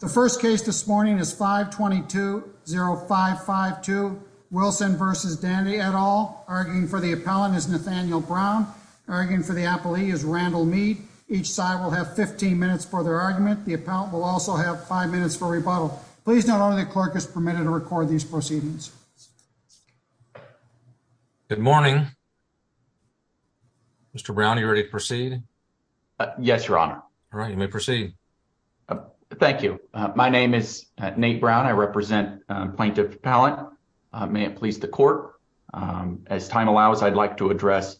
The first case this morning is 522-0552. Wilson versus Dande et al. Arguing for the appellant is Nathaniel Brown. Arguing for the appellee is Randall Mead. Each side will have 15 minutes for their argument. The appellant will also have five minutes for rebuttal. Please note only the clerk is permitted to record these proceedings. Good morning. Mr. Brown, are you ready to proceed? Yes, your honor. All right, you may proceed. Thank you. My name is Nate Brown. I represent Plaintiff Appellant. May it please the court, as time allows, I'd like to address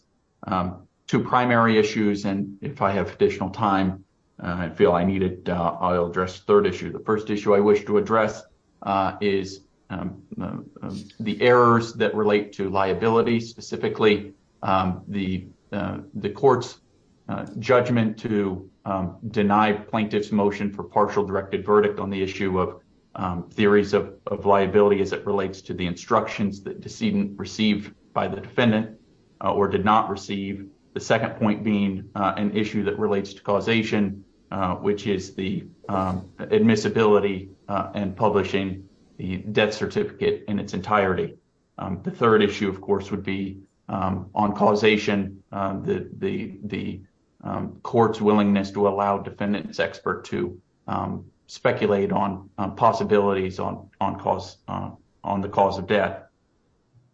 two primary issues, and if I have additional time I feel I need it, I'll address the third issue. The first issue I wish to address is the errors that relate to liability, specifically the court's judgment to deny plaintiff's motion for partial directed verdict on the issue of theories of liability as it relates to the instructions that decedent received by the defendant or did not receive. The second point being an issue that relates to causation, which is the admissibility and publishing the death certificate in its entirety. The third issue, of course, would be on causation, the court's willingness to allow defendant's expert to speculate on possibilities on the cause of death.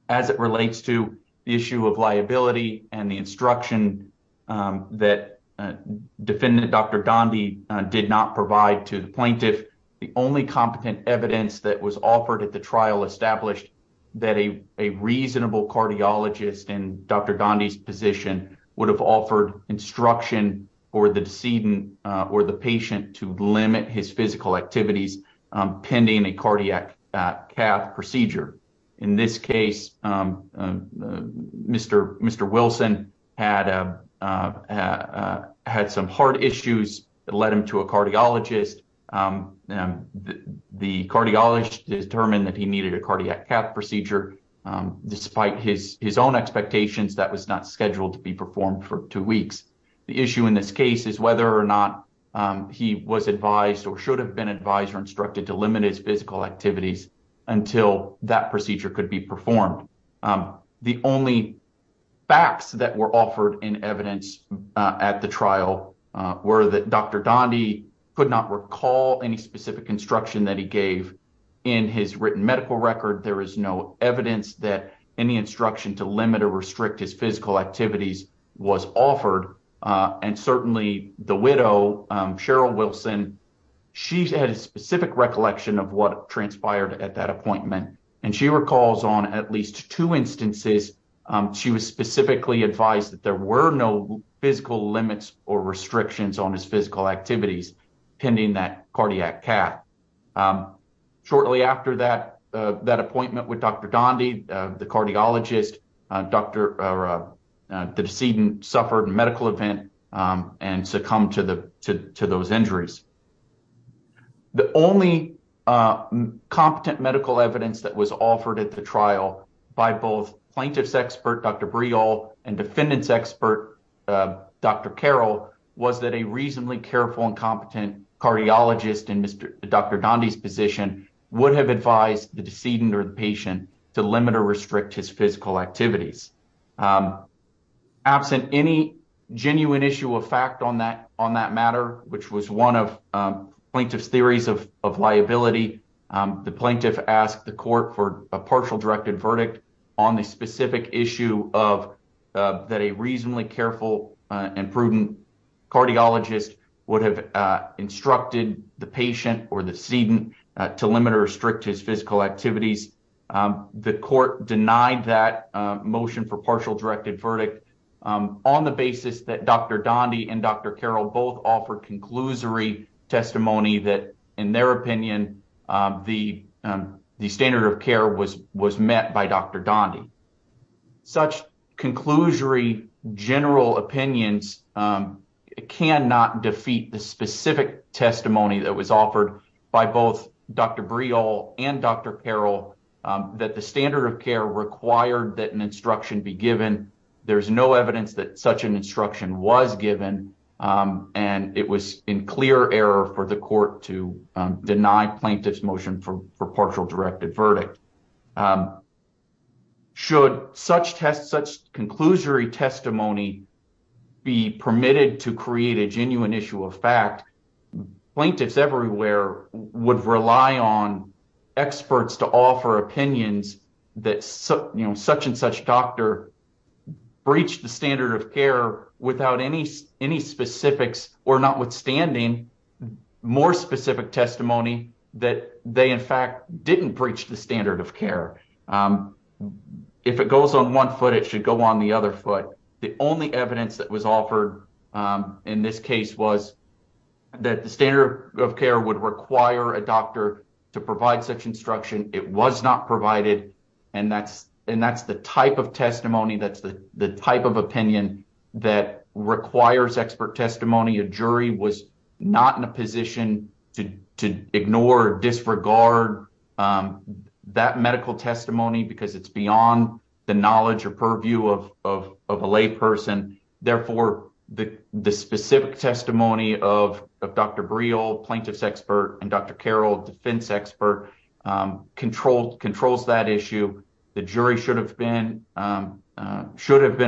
As it relates to the issue of liability and the instruction that defendant Dr. Donde did not provide to the plaintiff, the only competent evidence that was offered at the would have offered instruction for the decedent or the patient to limit his physical activities pending a cardiac cath procedure. In this case, Mr. Wilson had some heart issues that led him to a cardiologist. The cardiologist determined that he needed a cardiac cath procedure. Despite his own expectations, that was not scheduled to be performed for two weeks. The issue in this case is whether or not he was advised or should have been advised or instructed to limit his physical activities until that procedure could be performed. The only facts that were offered in evidence at the trial were that Dr. Donde could not recall any specific instruction that he gave in his written medical record. There is no evidence that any instruction to limit or restrict his physical activities was offered. Certainly, the widow, Cheryl Wilson, she had a specific recollection of what transpired at that appointment. She recalls on at least two instances she was specifically advised that there were no physical limits or restrictions on his cath. Shortly after that appointment with Dr. Donde, the cardiologist, the decedent suffered a medical event and succumbed to those injuries. The only competent medical evidence that was offered at the trial by both plaintiff's expert, Dr. Breal, and defendant's expert, Dr. Carroll, was that a reasonably careful and competent cardiologist in Dr. Donde's position would have advised the decedent or the patient to limit or restrict his physical activities. Absent any genuine issue of fact on that matter, which was one of plaintiff's theories of liability, the plaintiff asked the court for a partial directed verdict on the specific issue that a reasonably careful and prudent cardiologist would have instructed the patient or the decedent to limit or restrict his physical activities. The court denied that motion for partial directed verdict on the basis that Dr. Donde and Dr. Carroll both offered conclusory testimony that, in their opinion, the standard of care was met by Dr. Breal and Dr. Carroll, that the standard of care required that an instruction be given. There is no evidence that such an instruction was given, and it was in clear error for the court to deny plaintiff's motion for partial directed verdict. Should such conclusory testimony be permitted to create a genuine issue of fact, plaintiffs everywhere would rely on experts to offer opinions that such and such doctor breached the standard of care without any specifics or notwithstanding more specific testimony that they, in fact, didn't breach the only evidence that was offered in this case was that the standard of care would require a doctor to provide such instruction. It was not provided, and that's the type of testimony, that's the type of opinion that requires expert testimony. A jury was not in a position to ignore or disregard that medical testimony because it's beyond the knowledge or purview of a lay person. Therefore, the specific testimony of Dr. Breal, plaintiff's expert, and Dr. Carroll, defense expert, controls that issue. The jury should have been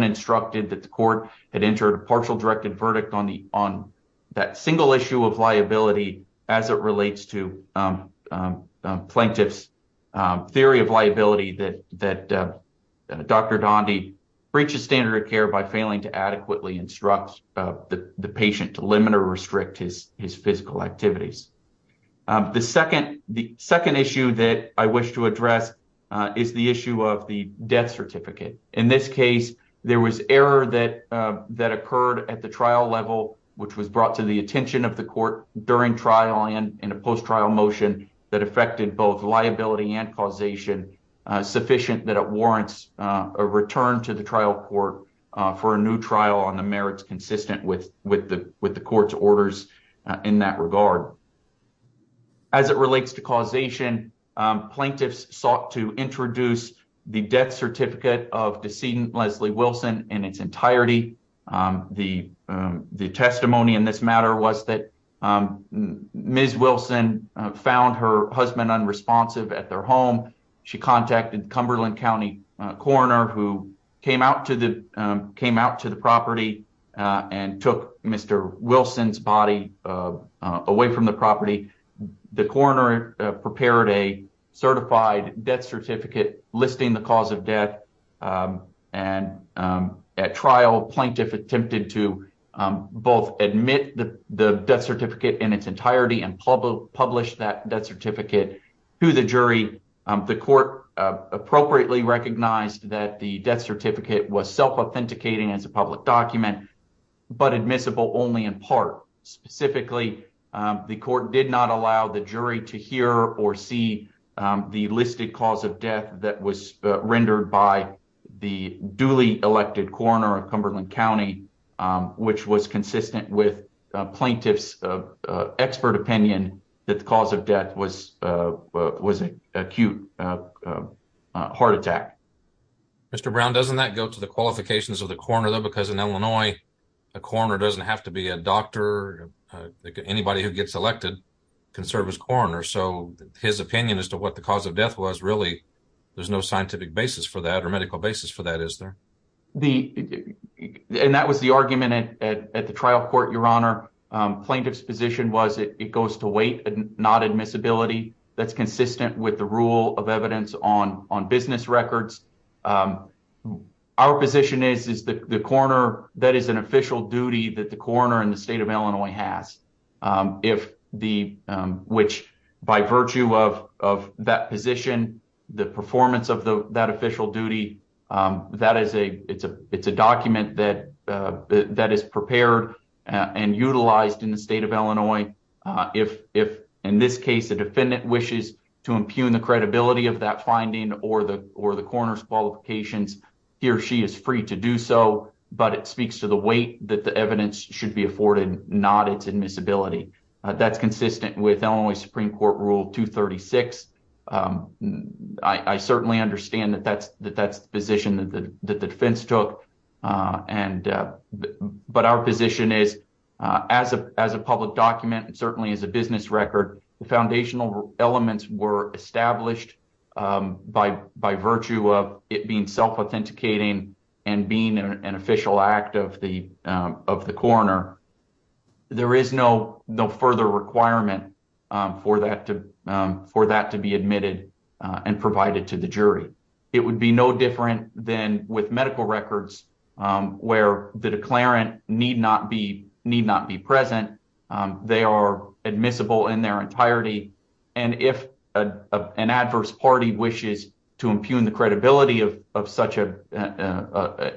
instructed that the court had entered a partial directed verdict on that single issue of liability as it relates to plaintiff's theory of liability that Dr. Donde breaches standard of care by failing to adequately instruct the patient to limit or restrict his physical activities. The second issue that I wish to address is the issue of the death certificate. In this case, there was error that occurred at the trial level, which was brought to the attention of the court during trial and in a post-trial motion that affected both liability and causation sufficient that it warrants a return to the trial court for a new trial on the merits consistent with the court's orders in that regard. As it relates to causation, plaintiffs sought to introduce the death certificate of decedent Leslie Wilson in its entirety. The testimony in this matter was that Ms. Wilson found her husband unresponsive at their home. She contacted Cumberland County coroner who came out to the property and took Mr. Wilson's body away from the property. The coroner prepared a certified death certificate listing the cause of death. At trial, plaintiff attempted to both admit the death certificate in its entirety and publish that death certificate to the jury. The court appropriately recognized that the death certificate was self-authenticating as a public document but admissible only in part. Specifically, the court did not allow the jury to hear or see the listed cause of death that was rendered by the duly elected coroner of Cumberland County which was consistent with plaintiff's expert opinion that the cause of death was acute heart attack. Mr. Brown, doesn't that go to the qualifications of the coroner though because in Illinois a coroner doesn't have to be a doctor. Anybody who gets elected can serve as coroner so his opinion as to what the cause of death was really there's no scientific basis for that or and that was the argument at the trial court, your honor. Plaintiff's position was it goes to weight and not admissibility that's consistent with the rule of evidence on business records. Our position is the coroner that is an official duty that the coroner in the state of Illinois has if the which by virtue of of that position the performance of the that official duty that is a it's a it's a document that that is prepared and utilized in the state of Illinois. If in this case the defendant wishes to impugn the credibility of that finding or the or the coroner's qualifications he or she is free to do so but it speaks to the weight that the evidence should be afforded not its admissibility. That's consistent with Illinois supreme court rule 236. I certainly understand that that's that that's the position that the that the defense took and but our position is as a as a public document and certainly as a business record foundational elements were established by by virtue of it being self-authenticating and being an official act of the of the coroner there is no no further requirement for that to for that to be admitted and provided to the jury. It would be no different than with medical records where the declarant need not be need not be present they are admissible in their entirety and if an adverse party wishes to impugn the credibility of of such a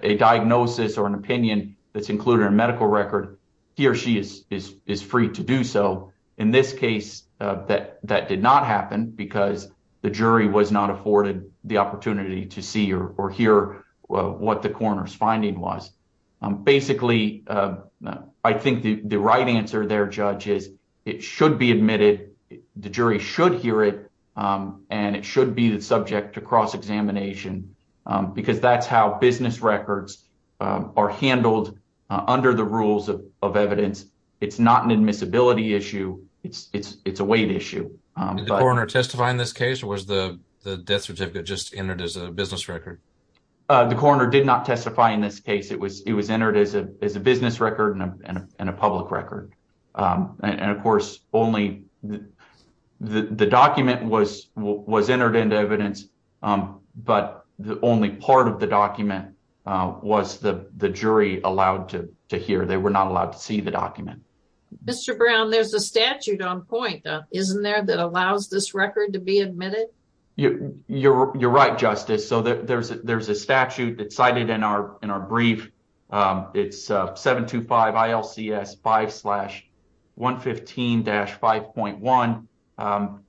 a diagnosis or an opinion that's included in a medical record he or she is is is free to do so. In this case that that did not happen because the jury was not afforded the opportunity to see or hear what the coroner's finding was. Basically I think the the right answer there judge is it should be admitted the jury should hear it and it should be the subject to cross-examination because that's how business records are handled under the rules of of evidence. It's not an admissibility issue it's it's it's a weight issue. Did the coroner testify in this case or was the the death certificate just entered as a business record? The coroner did not testify in this case it was it was entered as the the document was was entered into evidence but the only part of the document was the the jury allowed to to hear they were not allowed to see the document. Mr. Brown there's a statute on point isn't there that allows this record to be admitted? You're you're right justice so there's there's a statute that's cited in our in our brief it's 725 ILCS 5-115-5.1.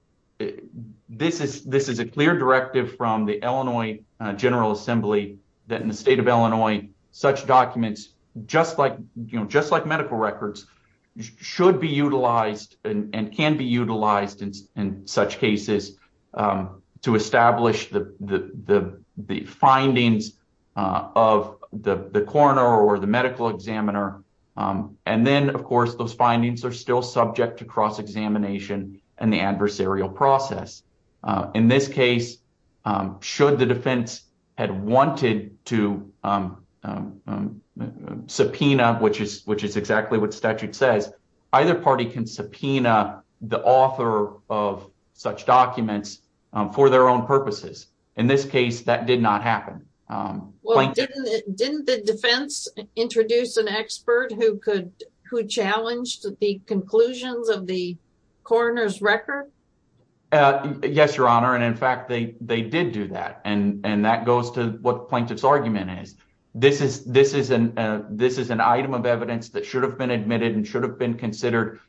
This is this is a clear directive from the Illinois General Assembly that in the state of Illinois such documents just like you know just like medical records should be utilized and can be utilized in such cases to establish the the the findings of the the coroner or the medical examiner and then of course those findings are still subject to cross-examination and the adversarial process. In this case should the defense had wanted to subpoena which is which is exactly what statute says either party can subpoena the author of such documents for their own purposes. In this case that did not happen. Well didn't the defense introduce an expert who could who challenged the conclusions of the coroner's record? Yes your honor and in fact they they did do that and and that goes to what plaintiff's argument is. This is this is an this is an item of evidence that should have been admitted and should have been considered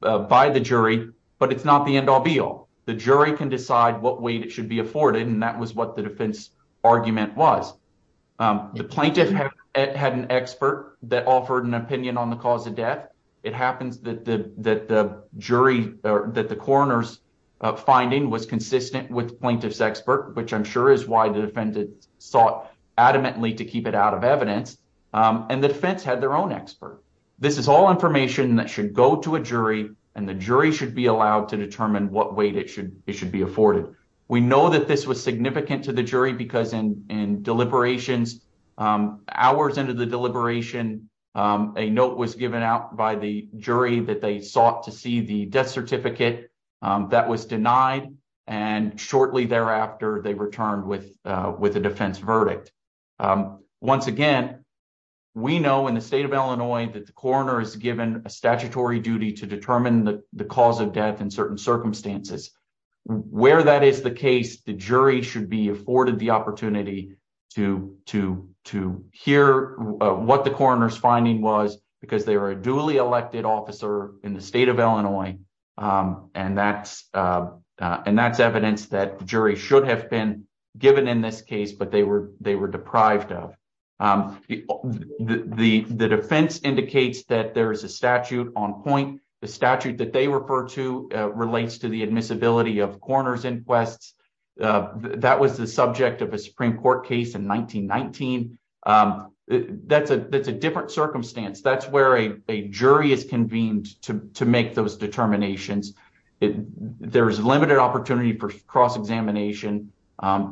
by the jury but it's not the end-all be-all. The jury can decide what weight it should be afforded and that was what the defense argument was. The plaintiff had an expert that offered an opinion on the cause of death. It happens that the that the jury or that the coroner's finding was consistent with plaintiff's expert which I'm sure is why the defendant sought adamantly to keep it out of evidence and the defense had their own expert. This is all information that should go to a jury and the jury should be allowed to determine what weight it should it should be afforded. We know that this was significant to the jury because in in deliberations hours into the deliberation a note was given out by the jury that they sought to see the death certificate that was denied and shortly thereafter they returned with with a defense verdict. Once again we know in the state of Illinois that the coroner is given a statutory duty to determine the cause of death in certain circumstances. Where that is the case the jury should be afforded the opportunity to to to hear what the coroner's finding was because they were a duly elected officer in the state of Illinois and that's and that's evidence that the jury should have been given in this case but they were they were deprived of. The the defense indicates that there is a statute on point. The statute that they refer to relates to the admissibility of coroner's inquests. That was the subject of a Supreme Court case in 1919. That's a that's a different circumstance. That's where a jury is convened to to make those determinations. There's limited opportunity for cross-examination.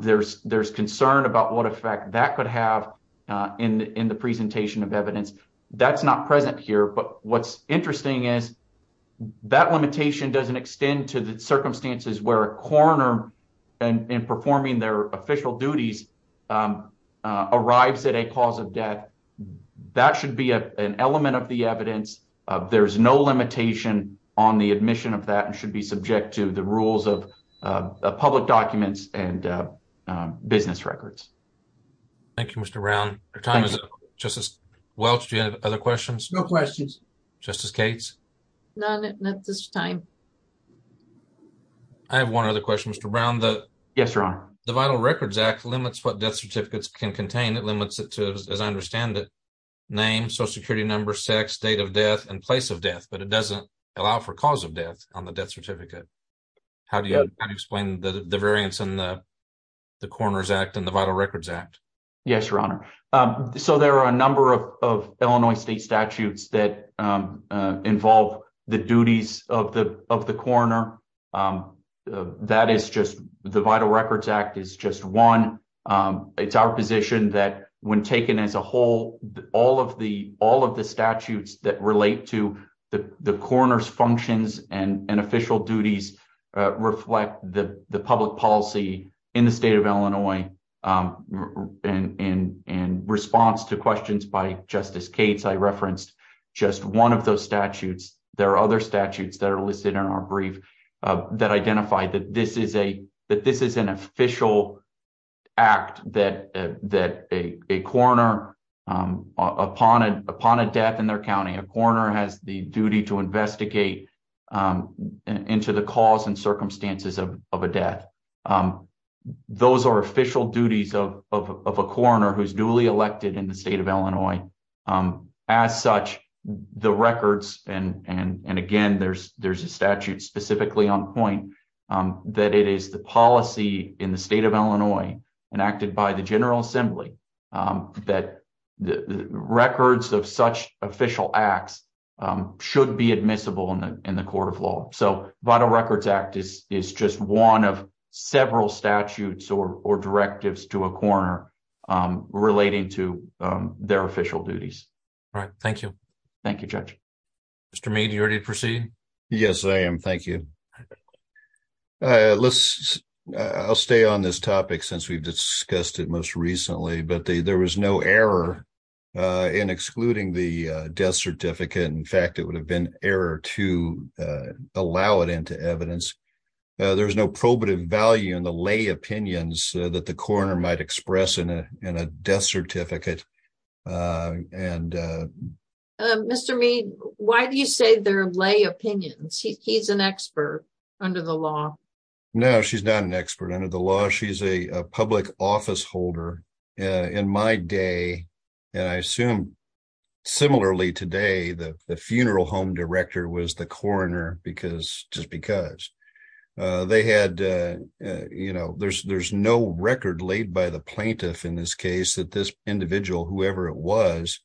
There's there's concern about what effect that could have in in the presentation of evidence. That's not present here but what's interesting is that limitation doesn't extend to the um arrives at a cause of death. That should be a an element of the evidence. There's no limitation on the admission of that and should be subject to the rules of public documents and business records. Thank you Mr. Brown. Your time is up. Justice Welch do you have other questions? No questions. Justice Cates? None at this time. I have one other question Mr. Brown. Yes your honor. The Vital Records Act limits what death certificates can contain. It limits it to as I understand it name, social security number, sex, date of death, and place of death. But it doesn't allow for cause of death on the death certificate. How do you explain the the variance in the the Coroner's Act and the Vital Records Act? Yes your honor. So there are a number of of Illinois state statutes that involve the duties of the of the coroner. That is just the Vital Records Act is just one. It's our position that when taken as a whole all of the all of the statutes that relate to the the coroner's functions and and official duties reflect the the public policy in the state of Illinois. In response to questions by Justice Cates I referenced just one of those statutes. There are other statutes that are listed in our that this is an official act that that a coroner upon upon a death in their county a coroner has the duty to investigate into the cause and circumstances of a death. Those are official duties of of a coroner who's duly elected in the state of Illinois. As such the records and and that it is the policy in the state of Illinois enacted by the General Assembly that the records of such official acts should be admissible in the in the court of law. So Vital Records Act is is just one of several statutes or or directives to a coroner relating to their official duties. All right, thank you. Thank you, Judge. Mr. Mead, are you ready to proceed? Yes, I am. Thank you. I'll stay on this topic since we've discussed it most recently, but there was no error in excluding the death certificate. In fact, it would have been error to allow it into evidence. There's no probative value in the lay opinions that the coroner might express in a death Mr. Mead, why do you say they're lay opinions? He's an expert under the law. No, she's not an expert under the law. She's a public office holder. In my day, and I assume similarly today, the funeral home director was the coroner because just because they had you know there's there's no record laid by the plaintiff in this case that this individual, whoever it was,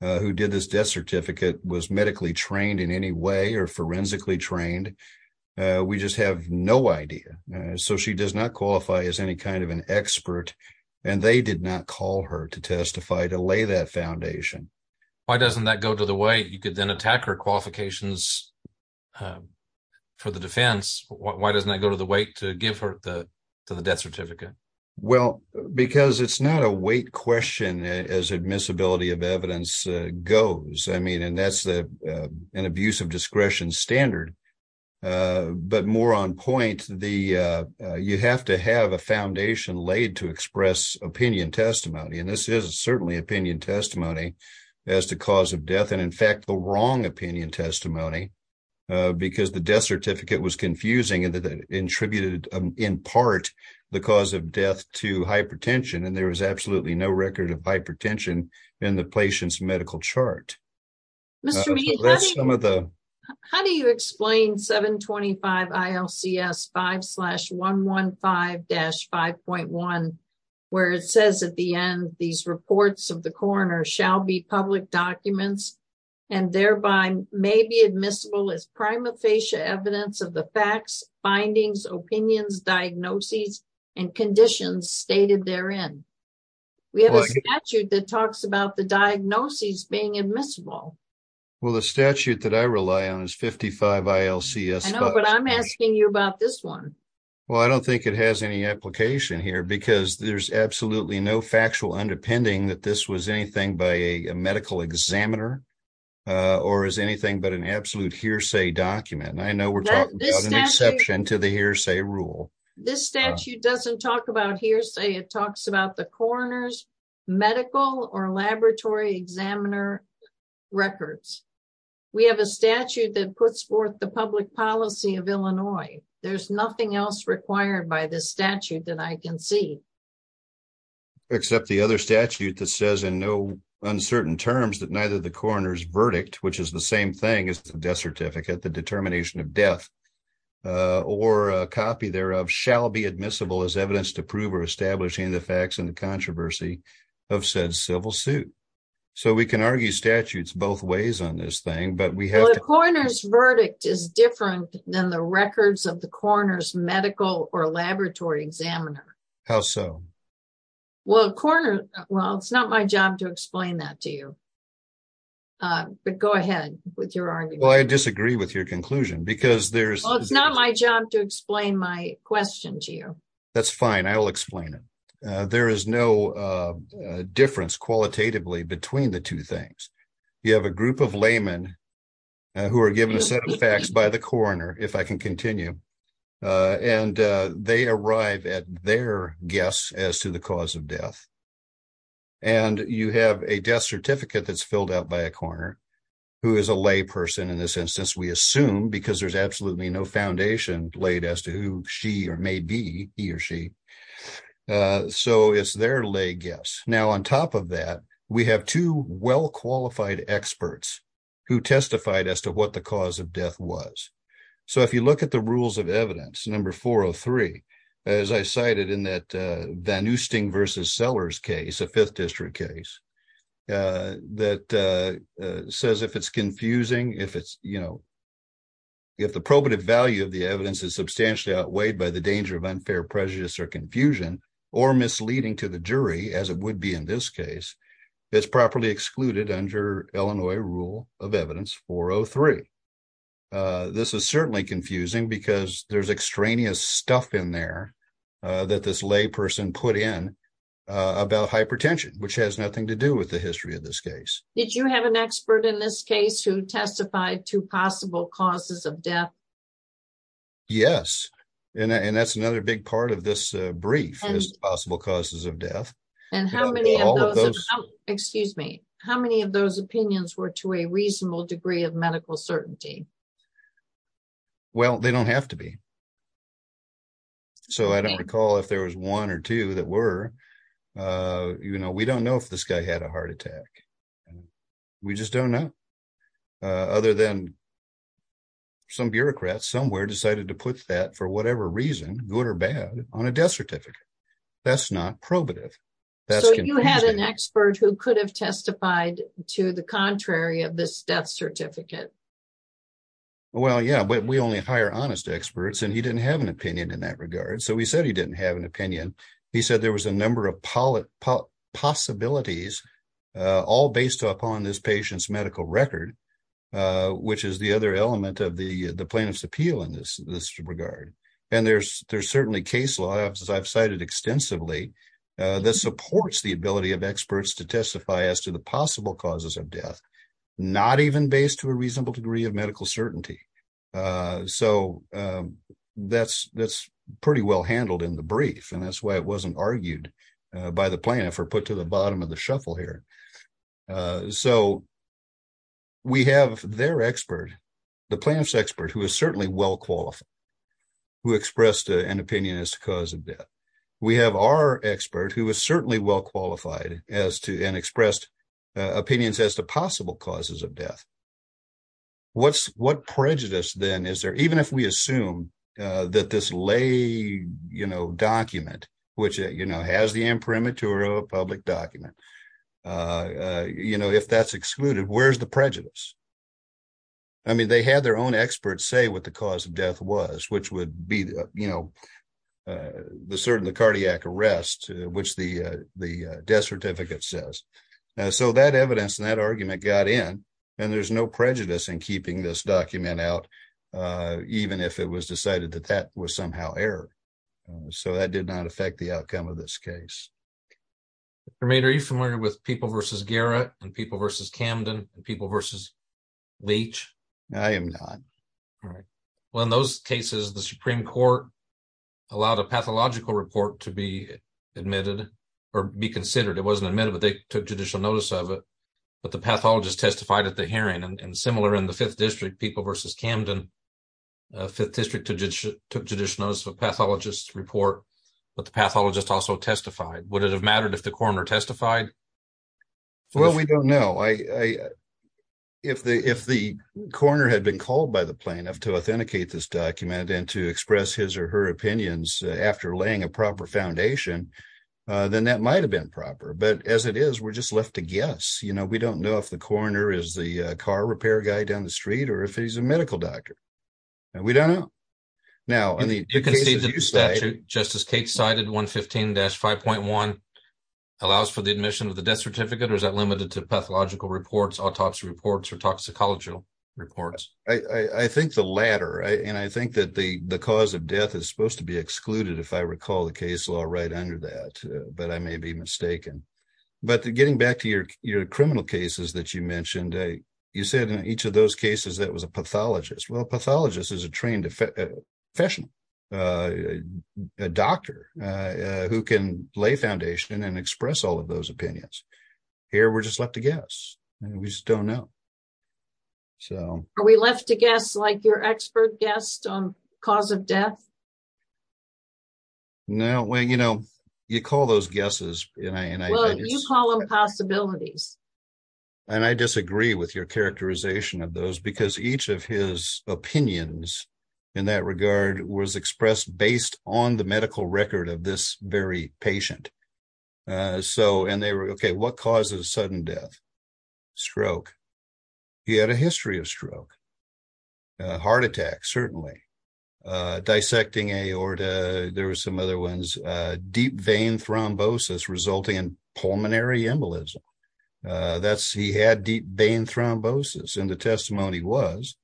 who did this death certificate was medically trained in any way or forensically trained. We just have no idea. So she does not qualify as any kind of an expert and they did not call her to testify to lay that foundation. Why doesn't that go to the way you could then attack her qualifications for the defense? Why doesn't that go to the weight to give her the to the certificate? Well, because it's not a weight question as admissibility of evidence goes. I mean and that's the an abuse of discretion standard. But more on point, you have to have a foundation laid to express opinion testimony and this is certainly opinion testimony as the cause of death and in fact the wrong opinion testimony because the death certificate was the cause of death to hypertension and there was absolutely no record of hypertension in the patient's medical chart. Mr. Mead, how do you explain 725 ILCS 5 slash 115-5.1 where it says at the end these reports of the coroner shall be public documents and thereby may be admissible as prima facie evidence of the facts, findings, opinions, diagnoses, and conditions stated therein. We have a statute that talks about the diagnoses being admissible. Well, the statute that I rely on is 55 ILCS. I know but I'm asking you about this one. Well, I don't think it has any application here because there's absolutely no factual underpinning that this was anything by a medical examiner or is anything but an absolute hearsay document. I know we're talking about an exception to the hearsay rule. This statute doesn't talk about hearsay. It talks about the coroner's medical or laboratory examiner records. We have a statute that puts forth the public policy of Illinois. There's nothing else required by this statute that says in no uncertain terms that neither the coroner's verdict, which is the same thing as the death certificate, the determination of death, or a copy thereof shall be admissible as evidence to prove or establish any of the facts and the controversy of said civil suit. So, we can argue statutes both ways on this thing. Well, the coroner's verdict is different than the records of the coroner's medical or laboratory examiner. How so? Well, it's not my job to explain that to you, but go ahead with your argument. Well, I disagree with your conclusion because there's... Well, it's not my job to explain my question to you. That's fine. I will explain it. There is no difference qualitatively between the two things. You have a group of laymen who are given a set of facts by the coroner, if I can continue, and they arrive at their guess as to the cause of death. And you have a death certificate that's filled out by a coroner, who is a layperson in this instance, we assume because there's absolutely no foundation laid as to who she or may be, he or she. So, it's their lay guess. Now, on top of that, we have two well-qualified experts who testified as to what the cause of evidence, number 403, as I cited in that Van Oosting versus Sellers case, a fifth district case, that says if it's confusing, if the probative value of the evidence is substantially outweighed by the danger of unfair prejudice or confusion or misleading to the jury, as it would be in this case, it's properly excluded under Illinois rule of evidence 403. This is certainly confusing because there's extraneous stuff in there that this layperson put in about hypertension, which has nothing to do with the history of this case. Did you have an expert in this case who testified to possible causes of death? Yes, and that's another big part of this brief is possible causes of death. And how many of those, excuse me, how many of those opinions were to a reasonable degree of medical certainty? Well, they don't have to be. So, I don't recall if there was one or two that were. You know, we don't know if this guy had a heart attack. We just don't know. Other than some bureaucrats somewhere decided to put that, for whatever reason, good or bad, on a death certificate. That's not probative. So, you had an expert who could have testified to the contrary of this death certificate. Well, yeah, but we only hire honest experts, and he didn't have an opinion in that regard. So, he said he didn't have an opinion. He said there was a number of possibilities, all based upon this patient's medical record, which is the other element of the plaintiff's appeal in this regard. And there's certainly case law, as I've cited extensively, that supports the ability of experts to testify as to the possible causes of death, not even based to a reasonable degree of medical certainty. So, that's pretty well handled in the brief, and that's why it wasn't argued by the plaintiff or put to the bottom of the shuffle here. So, we have their expert, the plaintiff's expert, who is certainly well qualified, who expressed an opinion as to cause of death. We have our expert, who is certainly well qualified and expressed opinions as to possible causes of death. What prejudice, then, is there, even if we assume that this lay document, which has the imprimatur of a public document, if that's excluded, where's the prejudice? I mean, they had their own experts say what the cause of death was, which would be the cardiac arrest, which the death certificate says. So, that evidence and that argument got in, and there's no prejudice in keeping this document out, even if it was decided that that was somehow error. So, that did not affect the outcome of this case. MR. HAUSERLAND Are you familiar with people versus Garrett, and people versus Camden, and people versus Leach? MR. HAUSERLAND I am not. MR. HAUSERLAND Well, in those cases, the Supreme Court allowed a pathological report to be admitted, or be considered. It wasn't admitted, but they took judicial notice of it, but the pathologist testified at the hearing. And similar in the Fifth District, people versus Camden, the Fifth District took judicial notice of a pathologist's report, but the pathologist also testified. Would it have mattered if the coroner testified? MR. HAUSERLAND Well, we don't know. If the coroner had been called by the plaintiff to authenticate this document, and to express his or her opinions after laying a proper foundation, then that might have been proper. But as it is, we're just left to guess. We don't know if the coroner is the car repair guy down the street, or if he's a medical doctor. We don't know. Now, in the cases you cite… MR. HAUSERLAND You can see that the statute, just as Kate cited, 115-5.1, allows for the admission of the death certificate, or is that limited to pathological reports, autopsy reports, or toxicology reports? MR. HAUSERLAND I think the latter, and I think that the cause of death is supposed to be excluded, if I recall the case law right under that, but I may be mistaken. But getting back to your criminal cases that you mentioned, you said in each of those cases that it was a pathologist. Well, a pathologist is a trained professional, a doctor, who can lay foundation and express all of those opinions. Here, we're just left to guess, and we just don't know. MRS. HAUSERLAND Are we left to guess like your expert guessed on cause of death? MR. HAUSERLAND No, well, you know, you call those guesses, and I… MRS. HAUSERLAND Well, you call them possibilities. MR. HAUSERLAND And I disagree with your characterization of those, because each of his opinions in that regard was expressed based on the medical record of this very patient. So, and they were, okay, what causes sudden death? Stroke. He had a history of stroke. Heart attack, certainly. Dissecting aorta. There were some other ones. Deep vein thrombosis resulting in pulmonary embolism. He had deep vein thrombosis, and the testimony was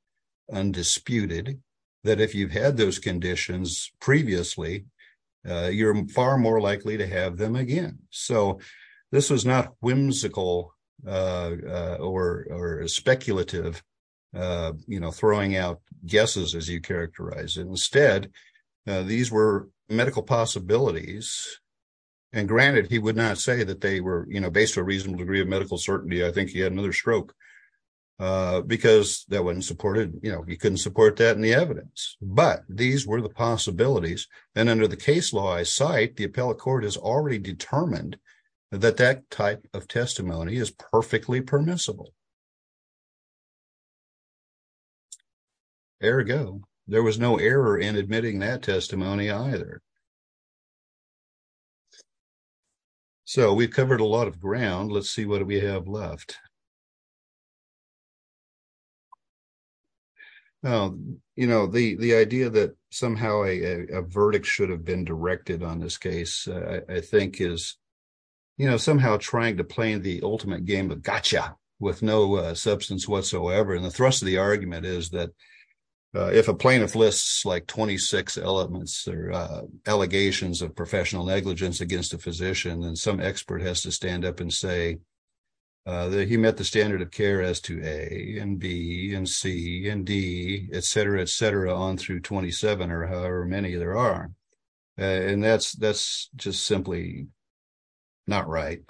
undisputed that if you've had those conditions previously, you're far more likely to have them again. So, this was not whimsical or speculative, you know, throwing out guesses as you characterize it. Instead, these were medical possibilities, and granted, he would not say that they were, you know, based on a reasonable degree of medical certainty. I think he had another stroke because that wasn't supported, you know, he couldn't support that in the evidence. But these were the possibilities, and under the case law I cite, the appellate court has already determined that that type of testimony is perfectly permissible. Ergo, there was no error in admitting that testimony either. So, we've covered a lot of ground. Let's see what we have left. Now, you know, the idea that somehow a verdict should have been directed on this case, I think is, you know, somehow trying to play the ultimate game of gotcha with what's going on. Substance whatsoever, and the thrust of the argument is that if a plaintiff lists, like, 26 elements or allegations of professional negligence against a physician, then some expert has to stand up and say that he met the standard of care as to A and B and C and D, et cetera, et cetera, on through 27 or however many there are. And that's just simply not right.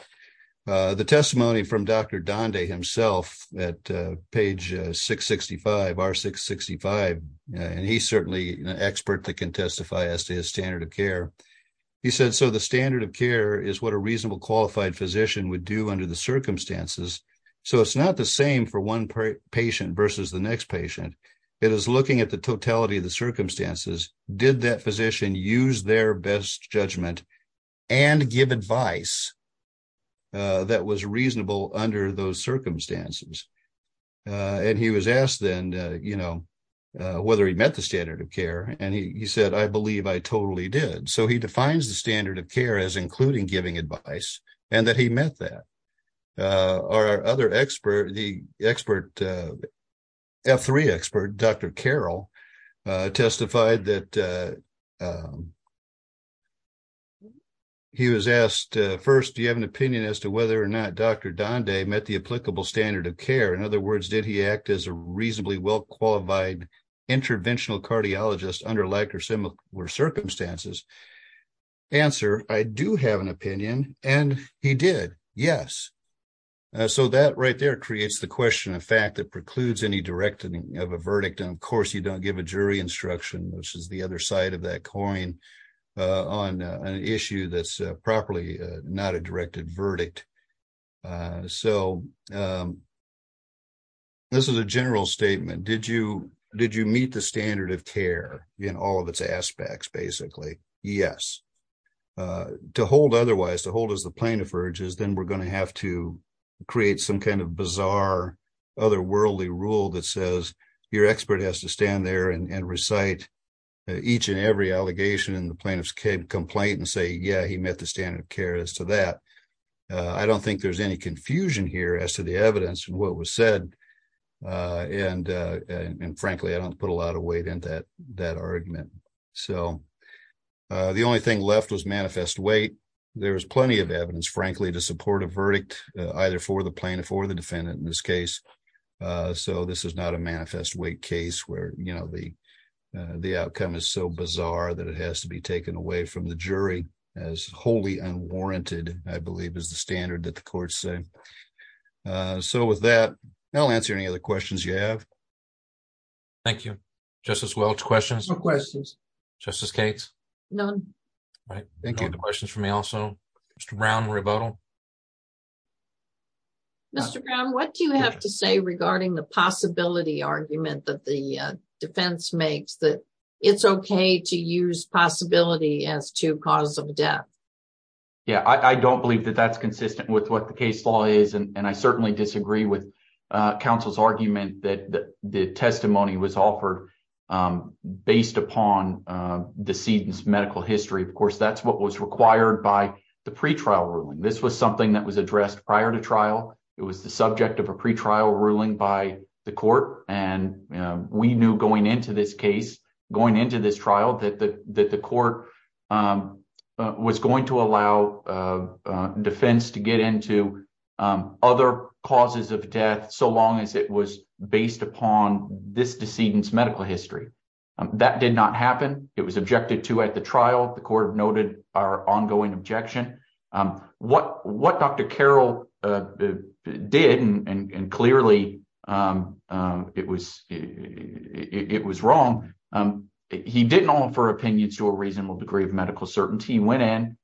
The testimony from Dr. Donde himself at page 665, R665, and he's certainly an expert that can testify as to his standard of care. He said, so the standard of care is what a reasonable qualified physician would do under the circumstances. So, it's not the same for one patient versus the next patient. It is looking at the totality of the circumstances. Did that physician use their best judgment and give advice that was reasonable under those circumstances? And he was asked then, you know, whether he met the standard of care, and he said, I believe I totally did. So, he defines the standard of care as including giving advice and that he met that. Our other question. He was asked, first, do you have an opinion as to whether or not Dr. Donde met the applicable standard of care? In other words, did he act as a reasonably well-qualified interventional cardiologist under like or similar circumstances? Answer, I do have an opinion, and he did, yes. So, that right there creates the question of fact that precludes any direct of a verdict. And of course, you don't give a jury instruction, which is the other side of that coin. On an issue that's properly not a directed verdict. So, this is a general statement. Did you meet the standard of care in all of its aspects, basically? Yes. To hold otherwise, to hold as the plaintiff urges, then we're going to have to create some kind of bizarre otherworldly rule that says your expert has to stand there and recite each and every allegation in the plaintiff's complaint and say, yeah, he met the standard of care as to that. I don't think there's any confusion here as to the evidence and what was said. And frankly, I don't put a lot of weight in that argument. So, the only thing left was manifest weight. There was plenty of evidence, frankly, to support a verdict either for the plaintiff or the defendant in this case. So, this is not a manifest weight case where, you know, the outcome is so bizarre that it has to be taken away from the jury as wholly unwarranted, I believe, is the standard that the courts say. So, with that, I'll answer any other questions you have. Thank you. Justice Welch, questions? No questions. Justice Cates? None. All right. Thank you. Questions for me also? Mr. Brown, rebuttal? Mr. Brown, what do you have to say regarding the possibility argument that the defense makes that it's okay to use possibility as to cause of death? Yeah, I don't believe that that's consistent with what the case law is, and I certainly disagree with counsel's argument that the testimony was offered based upon decedent's medical history. Of course, that's what was required by the pretrial ruling. This was something that was addressed prior to trial. It was the subject of a pretrial ruling by the court, and we knew going into this case, going into this trial, that the court was going to allow defense to get into other causes of death so long as it was based upon this decedent's medical history. That did not happen. It was objected to at the trial. The court noted our ongoing objection. What Dr. Carroll did, and clearly it was wrong, he didn't offer opinions to a reasonable degree of medical certainty. He went in,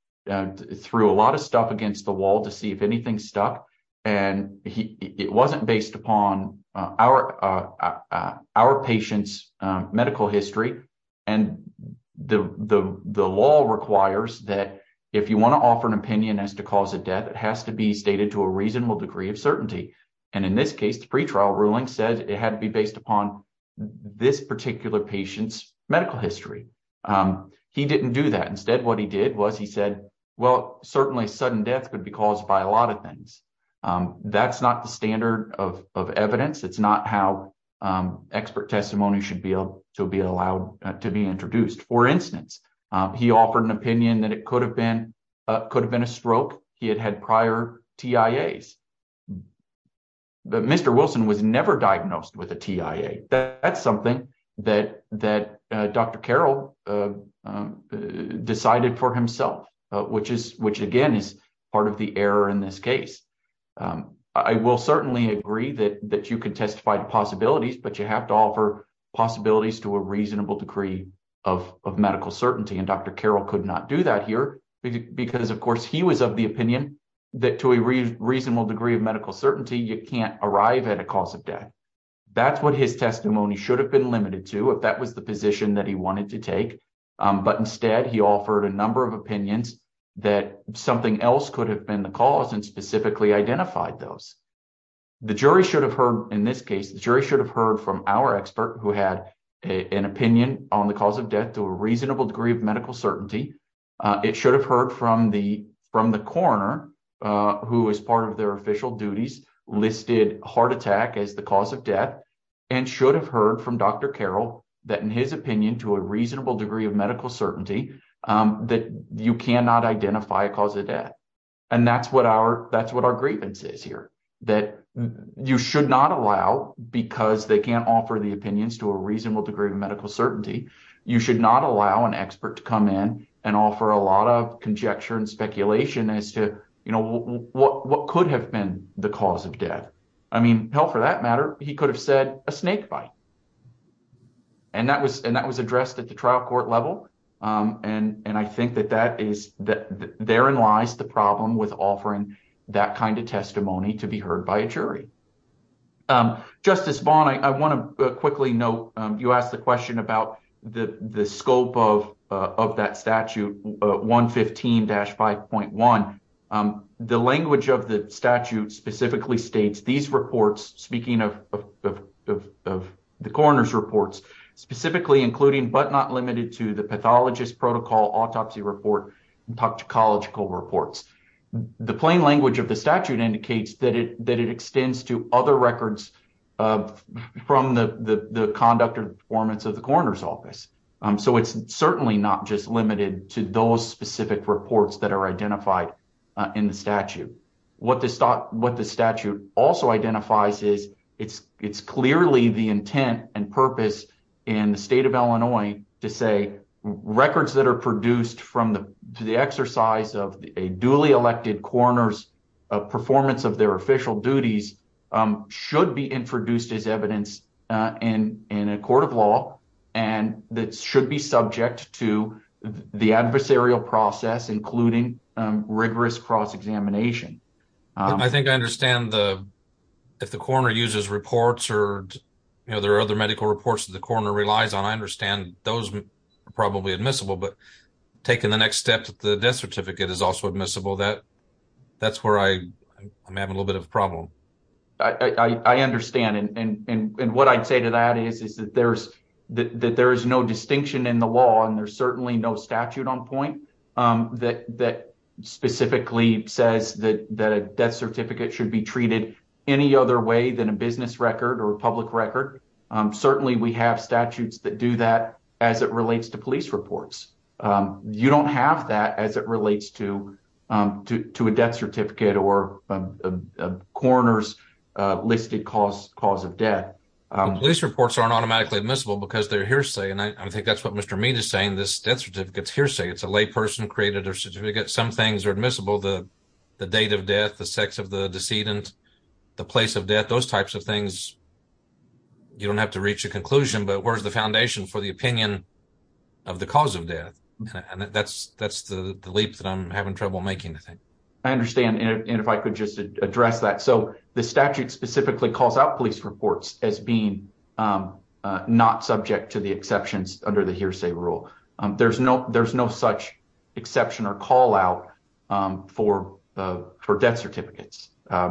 threw a lot of stuff against the wall to see if anything stuck, and it wasn't based upon our patient's medical history. The law requires that if you want to offer an opinion as to cause of death, it has to be stated to a reasonable degree of certainty. In this case, the pretrial ruling says it had to be based upon this particular patient's medical history. He didn't do that. Instead, what he did was he said, well, certainly sudden death could be caused by a lot of things. That's not the standard of evidence. It's not how expert testimony should be allowed to be introduced. For instance, he offered an opinion that it could have been a stroke. He had had prior TIAs, but Mr. Wilson was never diagnosed with a TIA. That's something that Dr. Carroll decided for himself, which again is part of the error in this case. I will certainly agree that you can testify to possibilities, but you have to offer possibilities to a reasonable degree of medical certainty. Dr. Carroll could not do that here because, of course, he was of the opinion that to a reasonable degree of medical certainty, you can't arrive at a cause of death. That's what his testimony should have been limited to if that was the position that he wanted to take. Instead, he offered a number of opinions that something else could have been the cause and specifically identified those. The jury should have heard, in this case, the jury should have heard from our expert who had an opinion on the cause of death to a reasonable degree of medical certainty. It should have heard from the coroner, who was part of their official duties, listed heart attack as the cause of death and should have heard from Dr. Carroll that in his opinion, to a reasonable degree of medical certainty, you cannot identify a cause of death. That's what our grievance is here. You should not allow, because they can't offer the opinions to a reasonable degree of medical certainty, you should not allow an expert to come in and offer a lot of conjecture and he could have said a snake bite. That was addressed at the trial court level. I think that therein lies the problem with offering that kind of testimony to be heard by a jury. Justice Vaughn, I want to quickly note, you asked the question about the scope of that of the coroner's reports, specifically including, but not limited to, the pathologist protocol autopsy report and toxicological reports. The plain language of the statute indicates that it extends to other records from the conduct or performance of the coroner's office. So it's certainly not just limited to those specific reports that are identified in the statute. It's clearly the intent and purpose in the state of Illinois to say records that are produced from the exercise of a duly elected coroner's performance of their official duties should be introduced as evidence in a court of law and that should be subject to the adversarial process, including rigorous cross-examination. I think I understand if the coroner uses reports or there are other medical reports that the coroner relies on, I understand those are probably admissible, but taking the next step to the death certificate is also admissible. That's where I'm having a little bit of a problem. I understand and what I'd say to that is that there is no distinction in the law and there's specifically says that a death certificate should be treated any other way than a business record or a public record. Certainly we have statutes that do that as it relates to police reports. You don't have that as it relates to a death certificate or a coroner's listed cause of death. Police reports aren't automatically admissible because they're hearsay and I think that's what Mr. Mead is saying. This death certificate's hearsay. It's a lay person created a certificate some things are admissible, the date of death, the sex of the decedent, the place of death, those types of things. You don't have to reach a conclusion, but where's the foundation for the opinion of the cause of death? That's the leap that I'm having trouble making, I think. I understand and if I could just address that. The statute specifically calls out police reports as being not subject to the exceptions under the hearsay rule. There's no such exception or call out for death certificates.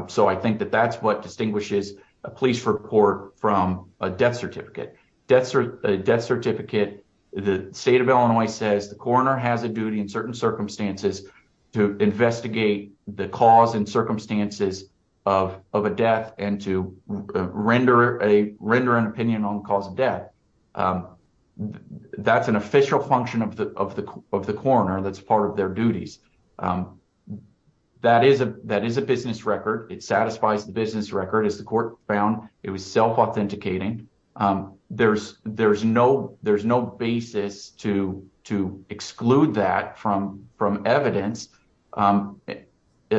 So I think that that's what distinguishes a police report from a death certificate. A death certificate, the state of Illinois says the coroner has a duty in certain circumstances to investigate the cause and circumstances of a death and to render an opinion on the cause of death. That's an official function of the coroner that's part of their duties. That is a business record. It satisfies the business record as the court found. It was self-authenticating. There's no basis to exclude that from evidence in the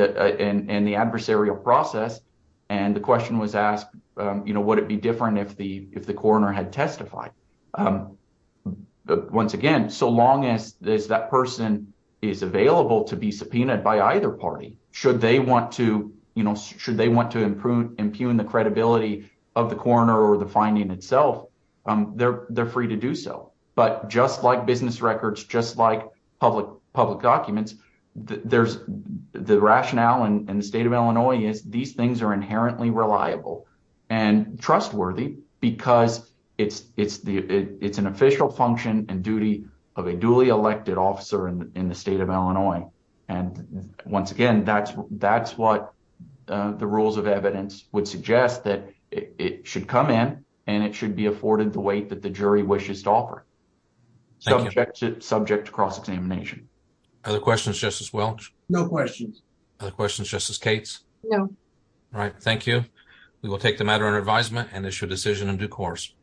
adversarial process and the question was asked, would it be if the coroner had testified? Once again, so long as that person is available to be subpoenaed by either party, should they want to impugn the credibility of the coroner or the finding itself, they're free to do so. But just like business records, just like public documents, there's the rationale in the state of Illinois is these things are inherently reliable and trustworthy because it's an official function and duty of a duly elected officer in the state of Illinois. And once again, that's what the rules of evidence would suggest that it should come in and it should be afforded the weight that the jury wishes to offer, subject to cross-examination. Other questions, Justice Welch? No questions. Other questions, Justice Cates? No. All right, thank you. We will take the matter under advisement and issue a decision in due course.